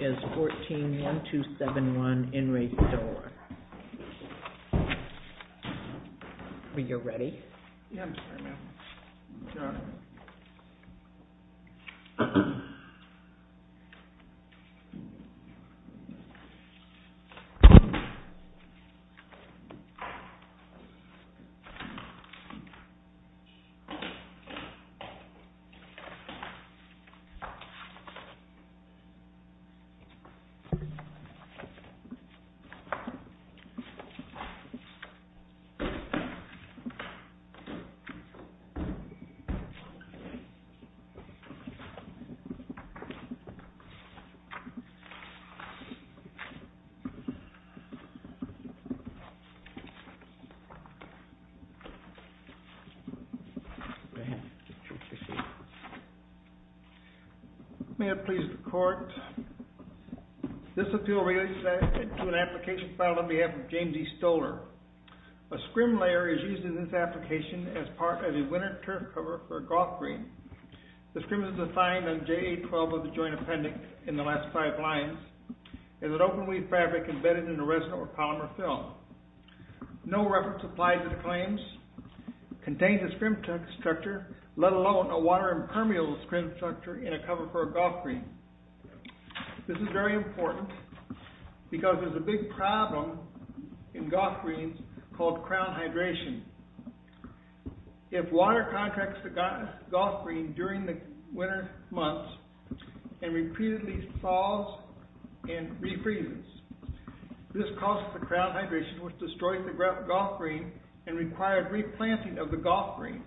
is 14-1271 In Re Stoller. Are you ready? Yeah, I'm sorry, ma'am. It's all right. May I please the court? This appeal relates to an application filed on behalf of James E. Stoller. A scrim layer is used in this application as part of a winter turf cover for a golf green. The scrim is defined on JA-12 of the Joint Appendix in the last five lines as an open-weed fabric embedded in the rest of a polymer film. No reference applies to the claims, contains a scrim structure, let alone a water impermeable scrim structure in a cover for a golf green. This is very important because there's a big problem in golf greens called crown hydration. If water contacts the golf green during the winter months and repeatedly thaws and refreezes, this causes the crown hydration, which destroys the golf green and requires replanting of the golf green.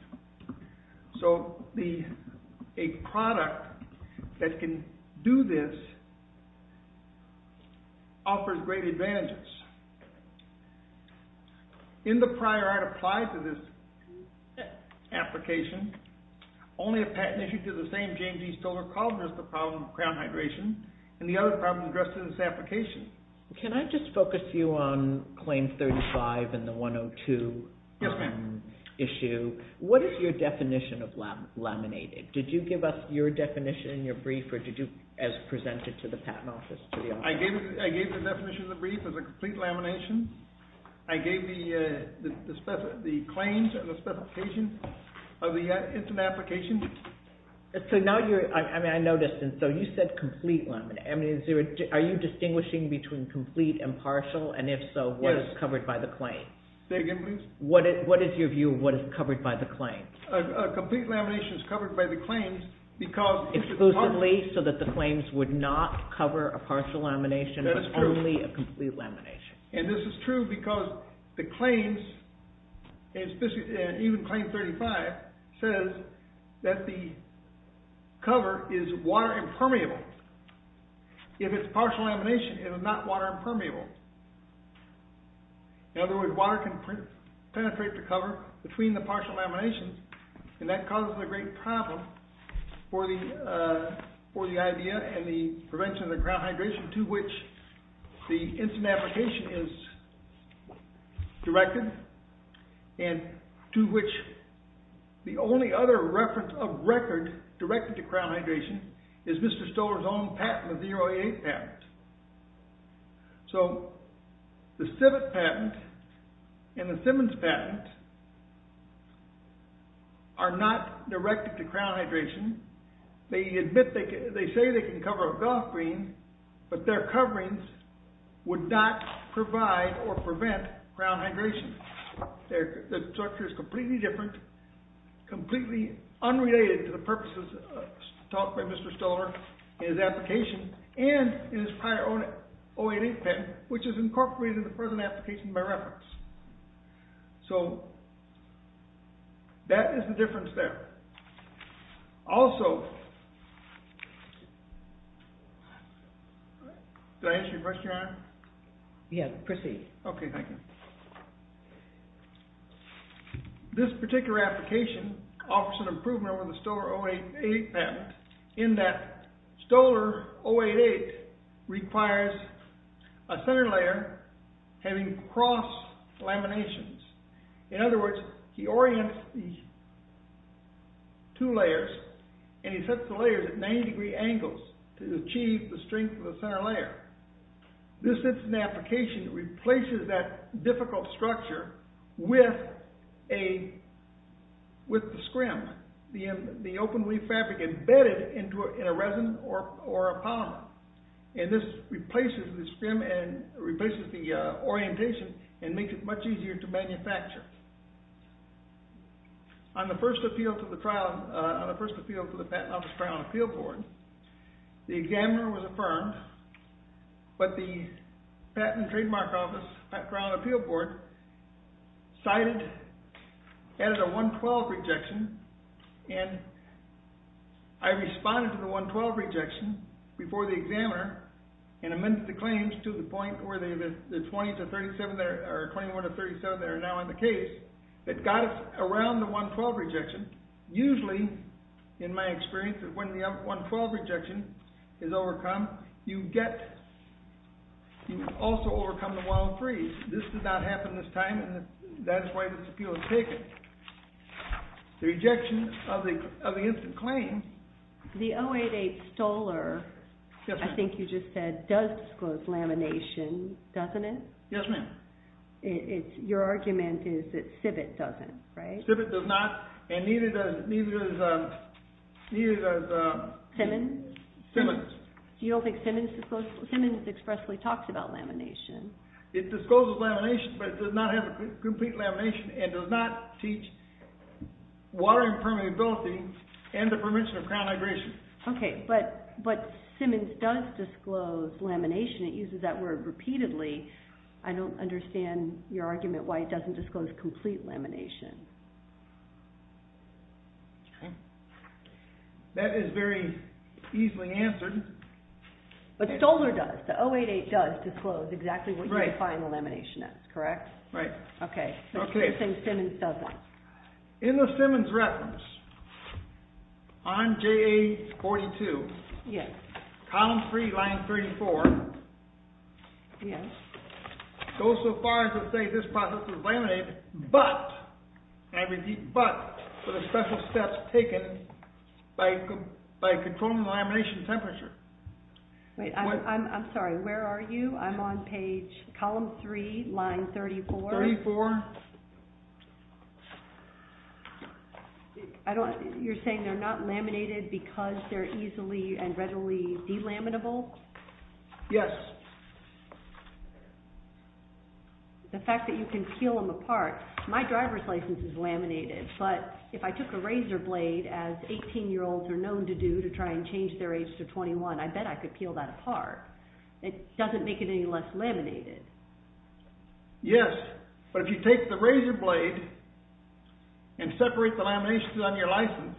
So a product that can do this offers great advantages. In the prior I'd applied to this application, only a patent issued to the same James E. Stoller and the other problem addressed in this application. Can I just focus you on Claim 35 and the 102 issue? What is your definition of laminated? Did you give us your definition in your brief or did you as presented to the patent office? I gave the definition of the brief as a complete lamination. I gave the claims and the specification of the instant application. I noticed you said complete lamination. Are you distinguishing between complete and partial and if so, what is covered by the claim? Say again please. What is your view of what is covered by the claim? A complete lamination is covered by the claims because Exclusively so that the claims would not cover a partial lamination but only a complete lamination. And this is true because the claims and even Claim 35 says that the cover is water impermeable. If it's partial lamination, it is not water impermeable. In other words, water can penetrate the cover between the partial laminations and that causes a great problem for the idea and the prevention of the ground hydration to which the instant application is directed and to which the only other reference of record directed to ground hydration is Mr. Stoler's own patent, the 08 patent. So the Civet patent and the Simmons patent are not directed to ground hydration. They admit, they say they can cover a golf green, but their coverings would not provide or prevent ground hydration. The structure is completely different, completely unrelated to the purposes taught by Mr. Stoler in his application and in his prior 08 patent which is incorporated in the present application by reference. So that is the difference there. Also, did I answer your question, Your Honor? Yes, proceed. Okay, thank you. This particular application offers an improvement over the Stoler 08 patent in that Stoler 08 requires a center layer having cross laminations. In other words, he orients the two layers and he sets the layers at 90 degree angles to achieve the strength of the center layer. This instant application replaces that difficult structure with the scrim, the open weave fabric embedded in a resin or a polymer. And this replaces the scrim and replaces the orientation and makes it much easier to manufacture. On the first appeal to the patent office trial and appeal board, the examiner was affirmed, but the patent and trademark office trial and appeal board cited as a 112 rejection and I responded to the 112 rejection before the examiner and amended the claims to the point where the 21 to 37 that are now in the case that got us around the 112 rejection. Usually, in my experience, when the 112 rejection is overcome, you also overcome the wild freeze. This did not happen this time and that's why this appeal was taken. The rejection of the instant claim... You just said does disclose lamination, doesn't it? Yes, ma'am. Your argument is that Civet doesn't, right? Civet does not and neither does... Simmons? Simmons. You don't think Simmons expressly talks about lamination? It discloses lamination, but it does not have a complete lamination and does not teach water impermeability and the prevention of crown hydration. Okay, but Simmons does disclose lamination. It uses that word repeatedly. I don't understand your argument why it doesn't disclose complete lamination. That is very easily answered. But Stoller does. The 088 does disclose exactly what you define the lamination as, correct? Right. Okay. Let's say Simmons does that. In the Simmons reference, on JA42, column 3, line 34... Yes. ...goes so far as to say this process is laminated, but, and I repeat but, for the special steps taken by controlling the lamination temperature. Wait, I'm sorry. Where are you? I'm on page, column 3, line 34. 34. You're saying they're not laminated because they're easily and readily delaminable? Yes. The fact that you can peel them apart, my driver's license is laminated, but if I took a razor blade, as 18-year-olds are known to do, to try and change their age to 21, I bet I could peel that apart. It doesn't make it any less laminated. Yes, but if you take the razor blade and separate the laminations on your license,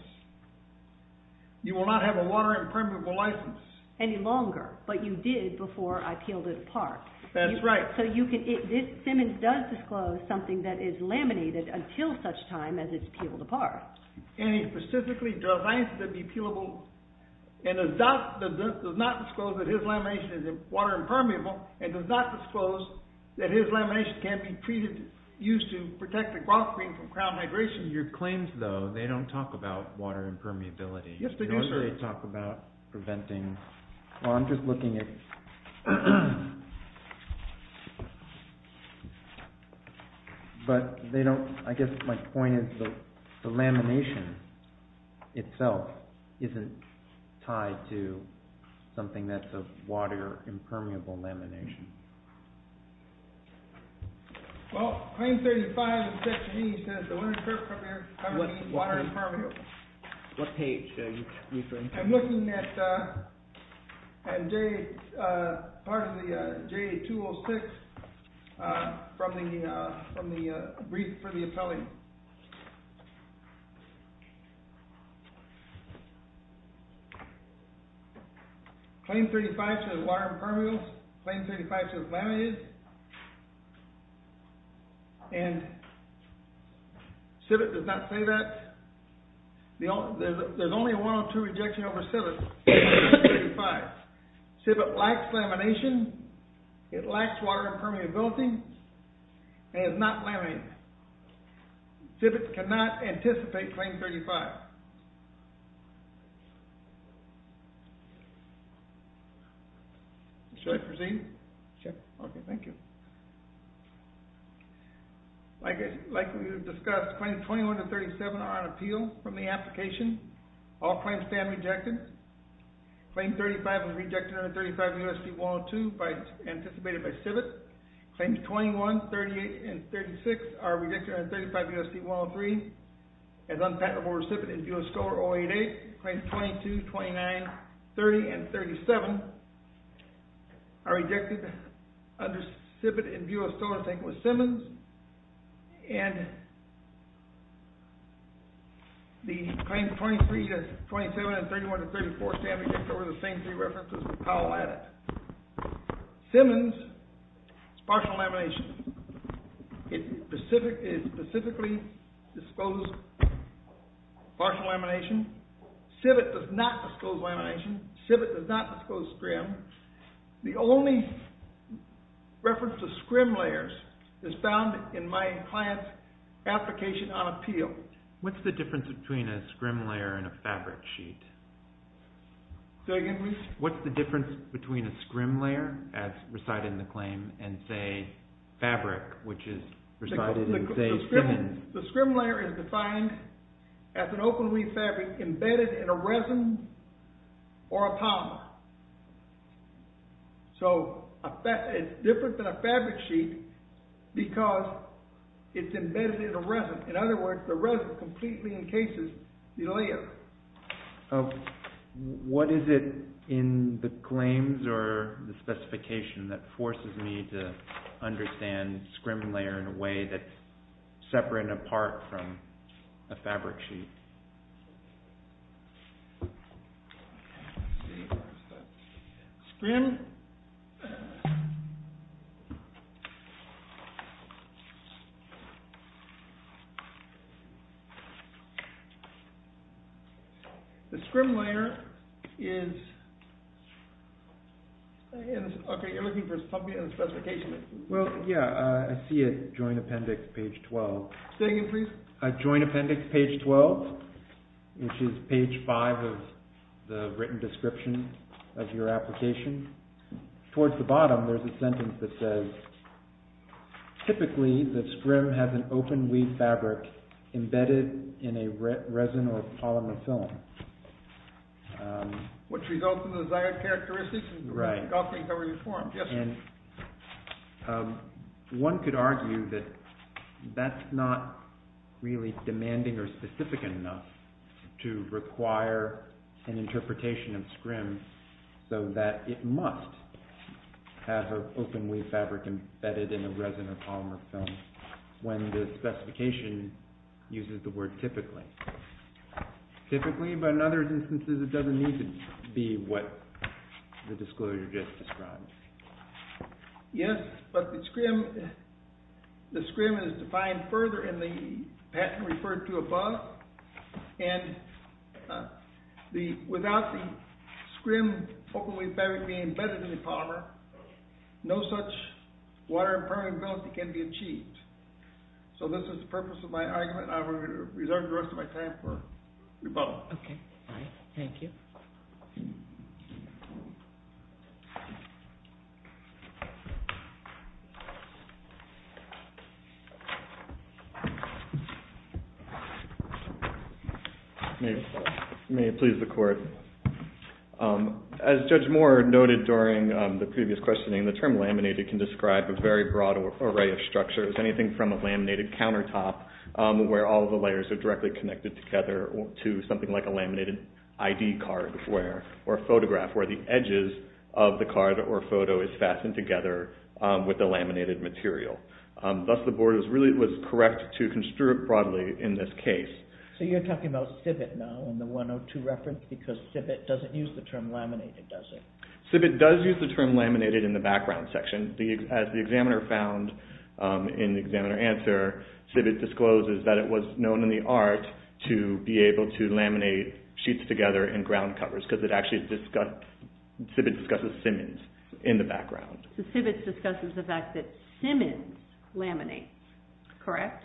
you will not have a water impermeable license. Any longer, but you did before I peeled it apart. That's right. So you can, Simmons does disclose something that is laminated until such time as it's peeled apart. And he specifically defines it to be peelable, and does not disclose that his lamination is water impermeable and does not disclose that his lamination can't be treated, used to protect the ground cream from crown migration. Your claims, though, they don't talk about water impermeability. Yes, they do, sir. They don't really talk about preventing. Well, I'm just looking at... But they don't, I guess my point is the lamination itself isn't tied to something that's a water impermeable lamination. Well, Claim 35 of Section E says that when it's prepared to cover the water impermeable... What page are you referring to? I'm looking at part of the J206 from the brief for the appellant. Claim 35 says water impermeable. Claim 35 says laminated. And Civet does not say that. There's only a 102 rejection over Civet. Civet lacks lamination. It lacks water impermeability. And it's not laminated. Civet cannot anticipate Claim 35. Should I proceed? Sure. Okay, thank you. Like we discussed, Claims 21 to 37 are on appeal from the application. All claims stand rejected. Claim 35 was rejected under 35 U.S.C. 102 anticipated by Civet. Claims 21, 38, and 36 are rejected under 35 U.S.C. 103 as unpatentable recipients. Claims 22, 29, 30, and 37 are rejected under Civet in view of stolen tank with Simmons. And the Claims 23 to 27 and 31 to 34 stand rejected under the same three references as Powell added. Simmons is partial lamination. It specifically disclosed partial lamination. Civet does not disclose lamination. Civet does not disclose scrim. The only reference to scrim layers is found in my client's application on appeal. What's the difference between a scrim layer and a fabric sheet? Say that again, please. What's the difference between a scrim layer, as recited in the claim, and, say, fabric, which is recited in, say, Simmons? The scrim layer is defined as an open-weave fabric embedded in a resin or a polymer. So it's different than a fabric sheet because it's embedded in a resin. In other words, the resin completely encases the layer. What is it in the claims or the specification that forces me to understand scrim layer in a way that's separate and apart from a fabric sheet? Scrim. The scrim layer is... Okay, you're looking for something in the specification. Well, yeah, I see it, joint appendix, page 12. Say that again, please. Joint appendix, page 12, which is page 5 of the written description of your application. Towards the bottom, there's a sentence that says, typically, the scrim has an open-weave fabric embedded in a resin or a polymer film. Which results in the desired characteristics of the way the golf game cover is formed. And one could argue that that's not really demanding or specific enough to require an interpretation of scrim so that it must have an open-weave fabric embedded in a resin or polymer film when the specification uses the word typically. Typically, but in other instances, it doesn't need to be what the disclosure just described. Yes, but the scrim is defined further in the patent referred to above. And without the scrim open-weave fabric being embedded in the polymer, no such water impermeability can be achieved. So this is the purpose of my argument, and I'm going to reserve the rest of my time for rebuttal. Okay, all right, thank you. Thank you. May it please the court, as Judge Moore noted during the previous questioning, the term laminated can describe a very broad array of structures. Anything from a laminated countertop, where all the layers are directly connected together, to something like a laminated ID card or photograph, where the edges of the card or photo is fastened together with the laminated material. Thus, the board was correct to construe it broadly in this case. So you're talking about civet now in the 102 reference because civet doesn't use the term laminated, does it? Civet does use the term laminated in the background section. As the examiner found in the examiner answer, civet discloses that it was known in the art to be able to laminate sheets together in ground covers, because civet discusses Simmons in the background. So civet discusses the fact that Simmons laminates, correct?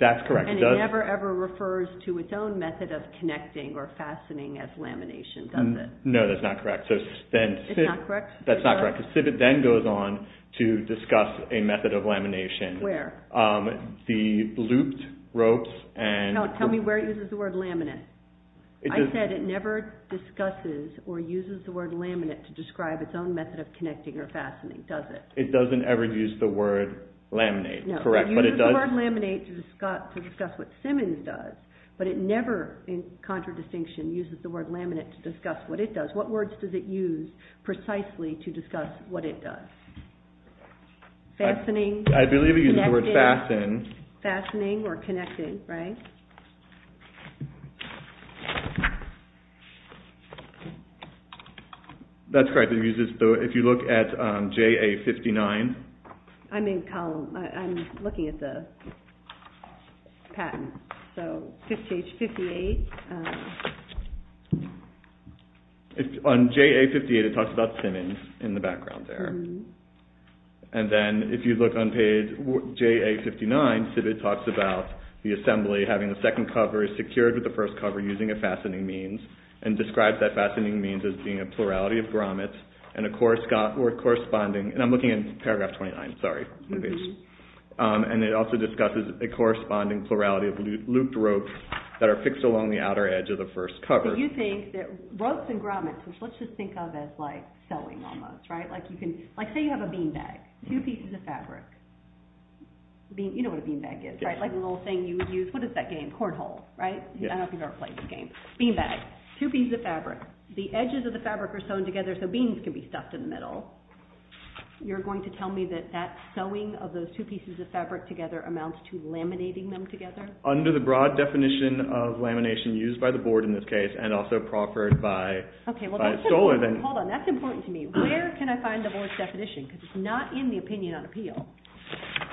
That's correct. And it never, ever refers to its own method of connecting or fastening as lamination, does it? No, that's not correct. It's not correct? That's not correct, because civet then goes on to discuss a method of lamination. Where? The looped ropes and... No, tell me where it uses the word laminate. I said it never discusses or uses the word laminate to describe its own method of connecting or fastening, does it? It doesn't ever use the word laminate, correct, but it does... It uses the word laminate to discuss what Simmons does, but it never, in contradistinction, uses the word laminate to discuss what it does. What words does it use precisely to discuss what it does? Fastening. I believe it uses the word fasten. Fastening or connecting, right? That's correct. It uses, if you look at JA59. I'm in column, I'm looking at the patent. So, page 58. On JA58, it talks about Simmons in the background there. And then if you look on page JA59, civet talks about the assembly having the second cover secured with the first cover using a fastening means and describes that fastening means as being a plurality of grommets and a corresponding... And I'm looking at paragraph 29, sorry. And it also discusses a corresponding plurality of looped ropes that are fixed along the outer edge of the first cover. So you think that ropes and grommets, which let's just think of as like sewing almost, right? Like say you have a bean bag, two pieces of fabric. You know what a bean bag is, right? Like the little thing you would use, what is that game? Cornhole, right? I don't know if you've ever played that game. Bean bag, two pieces of fabric. The edges of the fabric are sewn together so beans can be stuffed in the middle. You're going to tell me that that sewing of those two pieces of fabric together amounts to laminating them together? Under the broad definition of lamination used by the board in this case and also proffered by stolen... Okay, well that's important. Hold on, that's important to me. Where can I find the board's definition? Because it's not in the opinion on appeal.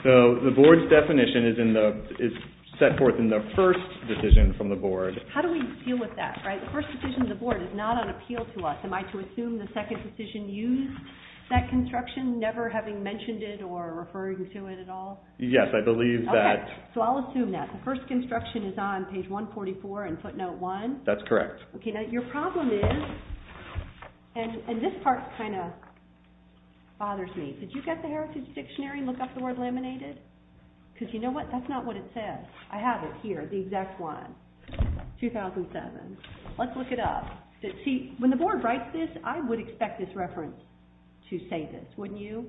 So the board's definition is set forth in the first decision from the board. How do we deal with that, right? The first decision of the board is not on appeal to us. Am I to assume the second decision used that construction, never having mentioned it or referring to it at all? Yes, I believe that. Okay, so I'll assume that. The first construction is on page 144 in footnote one. That's correct. Okay, now your problem is, and this part kind of bothers me. Did you get the heritage dictionary and look up the word laminated? Because you know what, that's not what it says. I have it here, the exact one, 2007. Let's look it up. See, when the board writes this, I would expect this reference to say this, wouldn't you?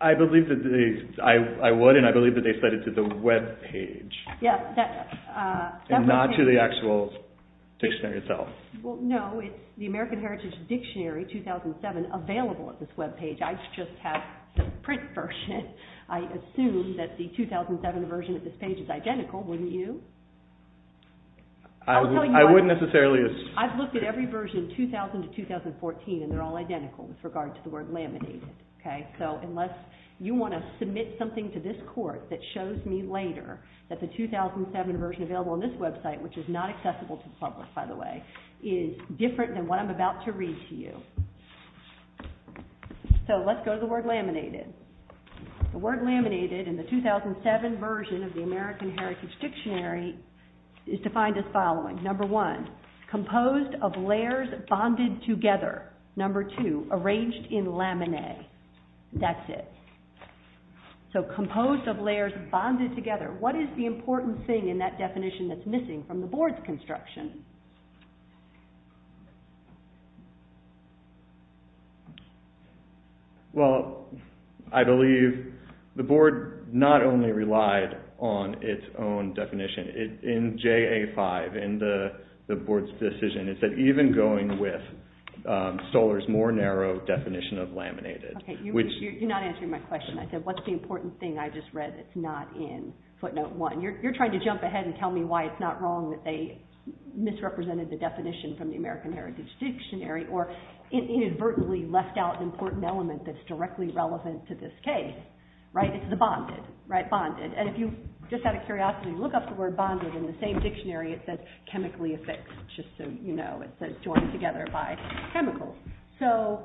I believe that they, I would, and I believe that they set it to the webpage. Yes, that's... And not to the actual dictionary itself. Well, no, it's the American Heritage Dictionary, 2007, available at this webpage. I just have the print version. I assume that the 2007 version of this page is identical, wouldn't you? I wouldn't necessarily... I've looked at every version, 2000 to 2014, and they're all identical with regard to the word laminated. Okay, so unless you want to submit something to this court that shows me later that the 2007 version available on this website, which is not accessible to the public, by the way, is different than what I'm about to read to you. So let's go to the word laminated. The word laminated in the 2007 version of the American Heritage Dictionary is defined as following. Number one, composed of layers bonded together. Number two, arranged in laminate. That's it. So composed of layers bonded together. What is the important thing in that definition that's missing from the board's construction? Well, I believe the board not only relied on its own definition. In JA-5, in the board's decision, it said even going with Stoller's more narrow definition of laminated. Okay, you're not answering my question. I said, what's the important thing I just read that's not in footnote one? You're trying to jump ahead and tell me why it's not wrong that they, misrepresented the definition from the American Heritage Dictionary or inadvertently left out an important element that's directly relevant to this case, right? It's the bonded, right? Bonded. And if you, just out of curiosity, look up the word bonded in the same dictionary, it says chemically affixed, just so you know. It says joined together by chemicals. So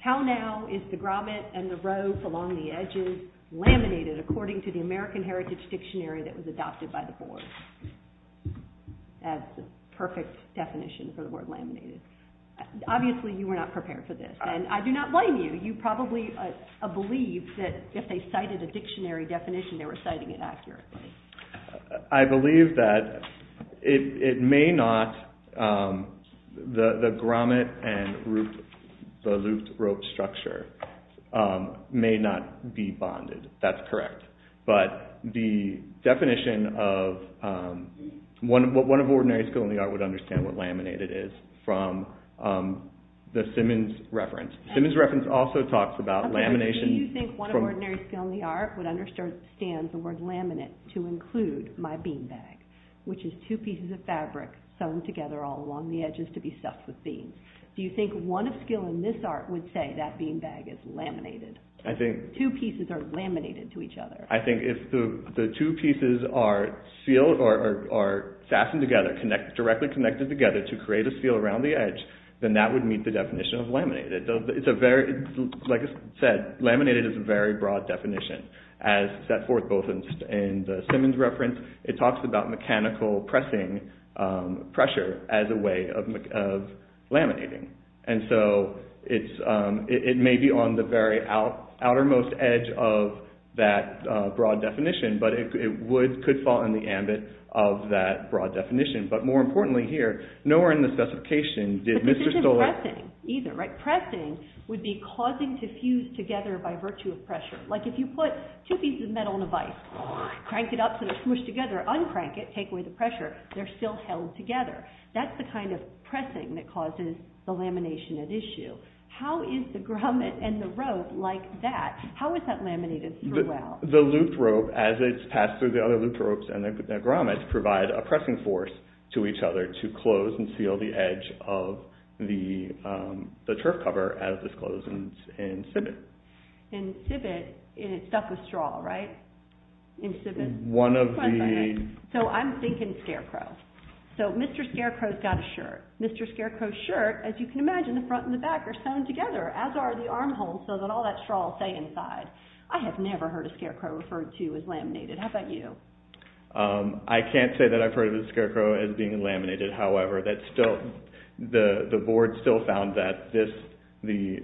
how now is the grommet and the rope along the edges laminated according to the American Heritage Dictionary that was adopted by the board? That's the perfect definition for the word laminated. Obviously, you were not prepared for this. And I do not blame you. You probably believed that if they cited a dictionary definition, they were citing it accurately. I believe that it may not, the grommet and the looped rope structure may not be bonded. That's correct. But the definition of one of ordinary skill in the art would understand what laminated is from the Simmons reference. Simmons reference also talks about lamination. Do you think one of ordinary skill in the art would understand the word laminate to include my bean bag, which is two pieces of fabric sewn together all along the edges to be stuffed with beans. Do you think one of skill in this art would say that bean bag is laminated? Two pieces are laminated to each other. I think if the two pieces are sassened together, directly connected together to create a seal around the edge, then that would meet the definition of laminated. Like I said, laminated is a very broad definition. As set forth both in the Simmons reference, it talks about mechanical pressing pressure as a way of laminating. And so it may be on the very outermost edge of that broad definition, but it could fall in the ambit of that broad definition. But more importantly here, nowhere in the specification did Mr. Stolar... But this isn't pressing either, right? Pressing would be causing to fuse together by virtue of pressure. Like if you put two pieces of metal in a vise, crank it up so they're smushed together, uncrank it, take away the pressure, they're still held together. That's the kind of pressing that causes the lamination at issue. How is the grommet and the rope like that? How is that laminated through well? The looped rope, as it's passed through the other looped ropes and the grommet, provide a pressing force to each other to close and seal the edge of the turf cover as it's closed in civet. In civet, it's stuck with straw, right? In civet? One of the... So I'm thinking scarecrow. So Mr. Scarecrow's got a shirt. Mr. Scarecrow's shirt, as you can imagine, the front and the back are sewn together, as are the arm holes so that all that straw will stay inside. I have never heard a scarecrow referred to as laminated. How about you? I can't say that I've heard of a scarecrow as being laminated. However, the board still found that the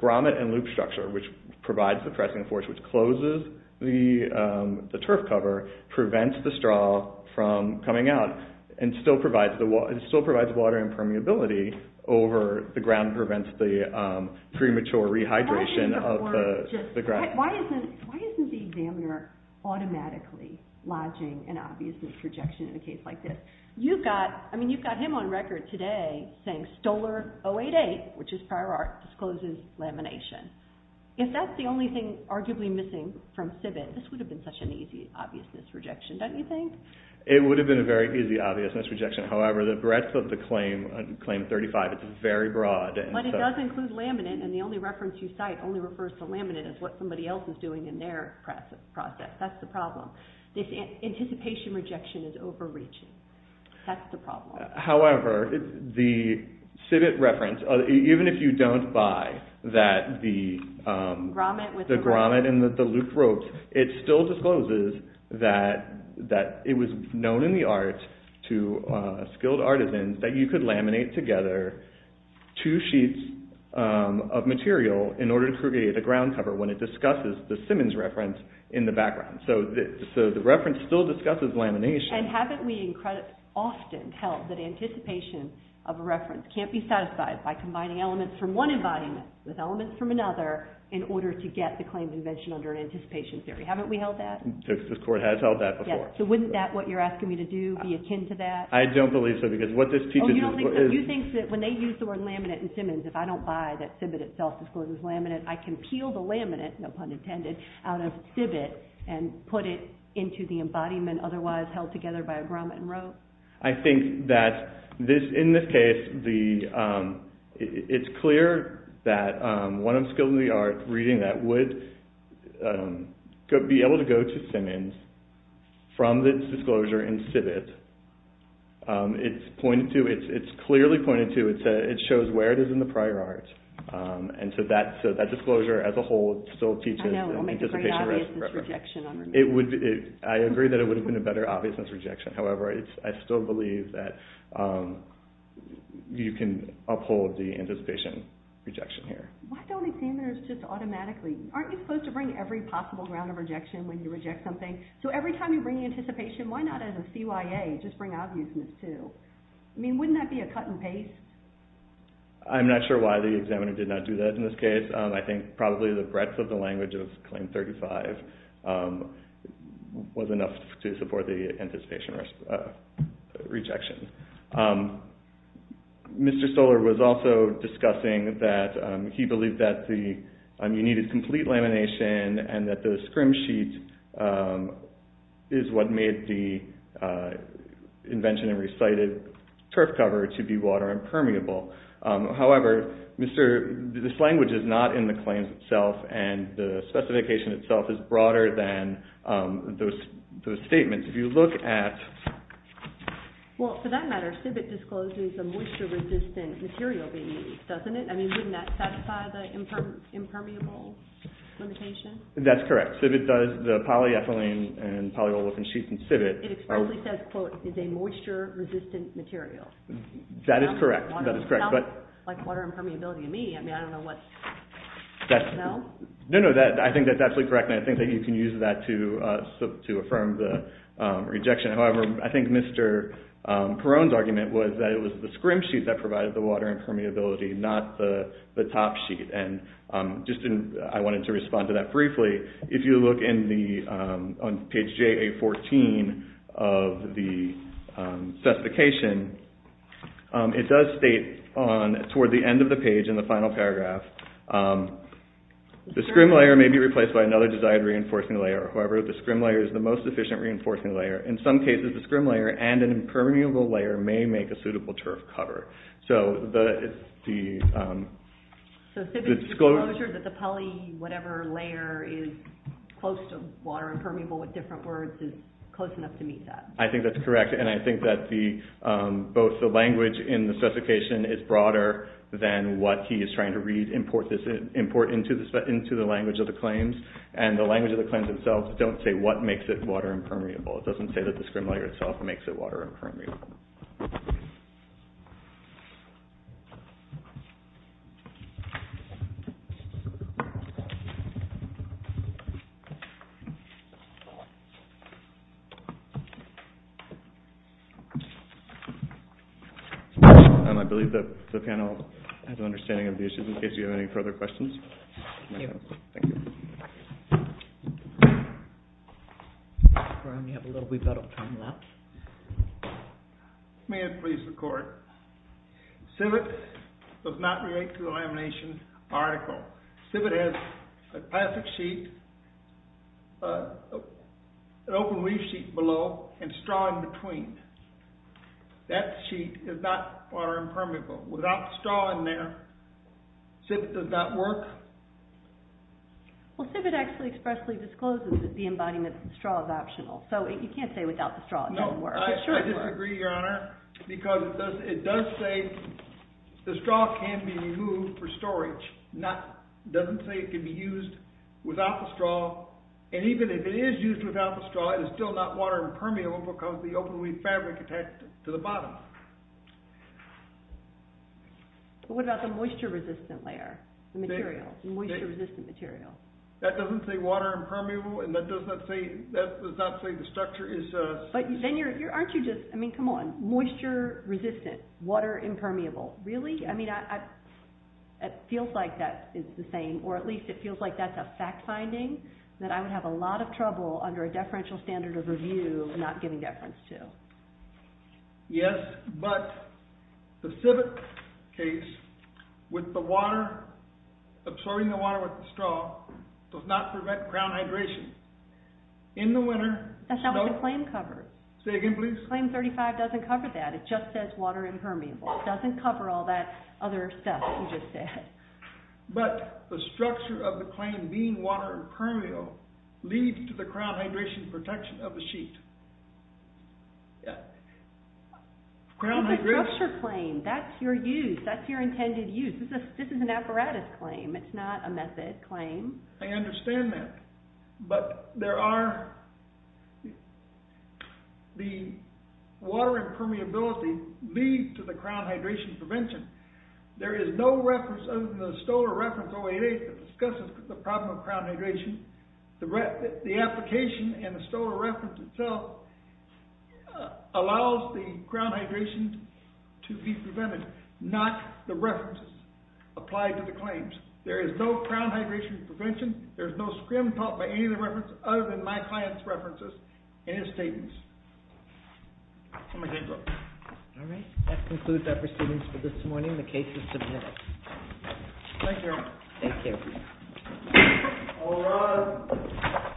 grommet and loop structure, which provides the pressing force which closes the turf cover, prevents the straw from coming out and still provides water and permeability over the ground and prevents the premature rehydration of the ground. Why isn't the examiner automatically lodging an obvious rejection in a case like this? You've got him on record today saying Stoler 088, which is prior art, discloses lamination. If that's the only thing arguably missing from CIBIT, this would have been such an easy obviousness rejection, don't you think? It would have been a very easy obviousness rejection. However, the breadth of the claim, Claim 35, it's very broad. But it does include laminate, and the only reference you cite only refers to laminate as what somebody else is doing in their process. That's the problem. This anticipation rejection is overreaching. That's the problem. However, the CIBIT reference, even if you don't buy the grommet and the looped ropes, it still discloses that it was known in the art to skilled artisans that you could laminate together two sheets of material in order to create a ground cover when it discusses the Simmons reference in the background. So the reference still discusses lamination. And haven't we often held that anticipation of a reference can't be satisfied by combining elements from one embodiment with elements from another in order to get the claim convention under an anticipation theory? Haven't we held that? The Texas court has held that before. So wouldn't that, what you're asking me to do, be akin to that? I don't believe so, because what this teaches is... Oh, you don't think so. You think that when they use the word laminate in Simmons, if I don't buy that CIBIT itself discloses laminate, I can peel the laminate, no pun intended, out of CIBIT and put it into the embodiment otherwise held together by a grommet and rope? I think that in this case, it's clear that one of the skills in the art, reading that, would be able to go to Simmons from this disclosure in CIBIT. It's clearly pointed to, it shows where it is in the prior art. And so that disclosure as a whole still teaches... I agree that it would have been a better obviousness rejection. However, I still believe that you can uphold the anticipation rejection here. Why don't examiners just automatically... Aren't you supposed to bring every possible ground of rejection when you reject something? So every time you bring anticipation, why not as a CYA just bring obviousness too? I mean, wouldn't that be a cut and paste? I'm not sure why the examiner did not do that in this case. I think probably the breadth of the language of Claim 35 was enough to support the anticipation rejection. Mr. Stoller was also discussing that he believed that you needed complete lamination and that the scrim sheet is what made the invention and recited turf cover to be water impermeable. However, this language is not in the claims itself and the specification itself is broader than those statements. If you look at... Well, for that matter, CIBIT discloses a moisture resistant material being used, doesn't it? I mean, wouldn't that satisfy the impermeable limitation? That's correct. CIBIT does, the polyethylene and polyolefin sheets in CIBIT... It explicitly says, quote, is a moisture resistant material. That is correct. It sounds like water impermeability to me. I mean, I don't know what... No, no, I think that's absolutely correct and I think that you can use that to affirm the rejection. However, I think Mr. Perone's argument was that it was the scrim sheet that provided the water impermeability, not the top sheet. And I wanted to respond to that briefly. If you look on page JA14 of the specification, it does state toward the end of the page in the final paragraph, the scrim layer may be replaced by another desired reinforcing layer. However, the scrim layer is the most efficient reinforcing layer. In some cases, the scrim layer and an impermeable layer may make a suitable turf cover. So the... So CIBIT's disclosure that the poly whatever layer is close to water impermeable with different words is close enough to meet that. I think that's correct and I think that both the language in the specification is broader than what he is trying to re-import into the language of the claims and the language of the claims itself don't say what makes it water impermeable. It doesn't say that the scrim layer itself makes it water impermeable. Thank you. I believe that the panel has an understanding of the issues in case you have any further questions. Thank you. We have a little bit of time left. May I please record? CIBIT does not relate to the lamination article. CIBIT has a plastic sheet, an open leaf sheet below and straw in between. That sheet is not water impermeable. Without the straw in there, CIBIT does not work. Well, CIBIT actually expressly discloses that the embodiment of the straw is optional. So you can't say without the straw it doesn't work. No, I disagree, Your Honor, because it does say the straw can be removed for storage. It doesn't say it can be used without the straw. And even if it is used without the straw, it is still not water impermeable because the open leaf fabric attached to the bottom. What about the moisture-resistant layer, the material, the moisture-resistant material? That doesn't say water impermeable, and that does not say the structure is... But then aren't you just, I mean, come on, moisture-resistant, water impermeable, really? I mean, it feels like that is the same, or at least it feels like that's a fact-finding that I would have a lot of trouble under a deferential standard of review not giving deference to. Yes, but the CIBIT case with the water, absorbing the water with the straw, does not prevent crown hydration. In the winter... That's not what the claim covers. Say again, please. Claim 35 doesn't cover that. It just says water impermeable. It doesn't cover all that other stuff that you just said. But the structure of the claim being water impermeable leads to the crown hydration protection of the sheet. Crown hydration... It's a structure claim. That's your use. That's your intended use. This is an apparatus claim. It's not a method claim. I understand that, but there are... The water impermeability leads to the crown hydration prevention. There is no reference other than the Stoler Reference 088 that discusses the problem of crown hydration. The application and the Stoler Reference itself allows the crown hydration to be prevented, not the references applied to the claims. There is no crown hydration prevention. There is no scrim taught by any of the references other than my client's references in his statements. I'm going to go. All right. That concludes our proceedings for this morning. The case is submitted. Thank you. Take care. All rise.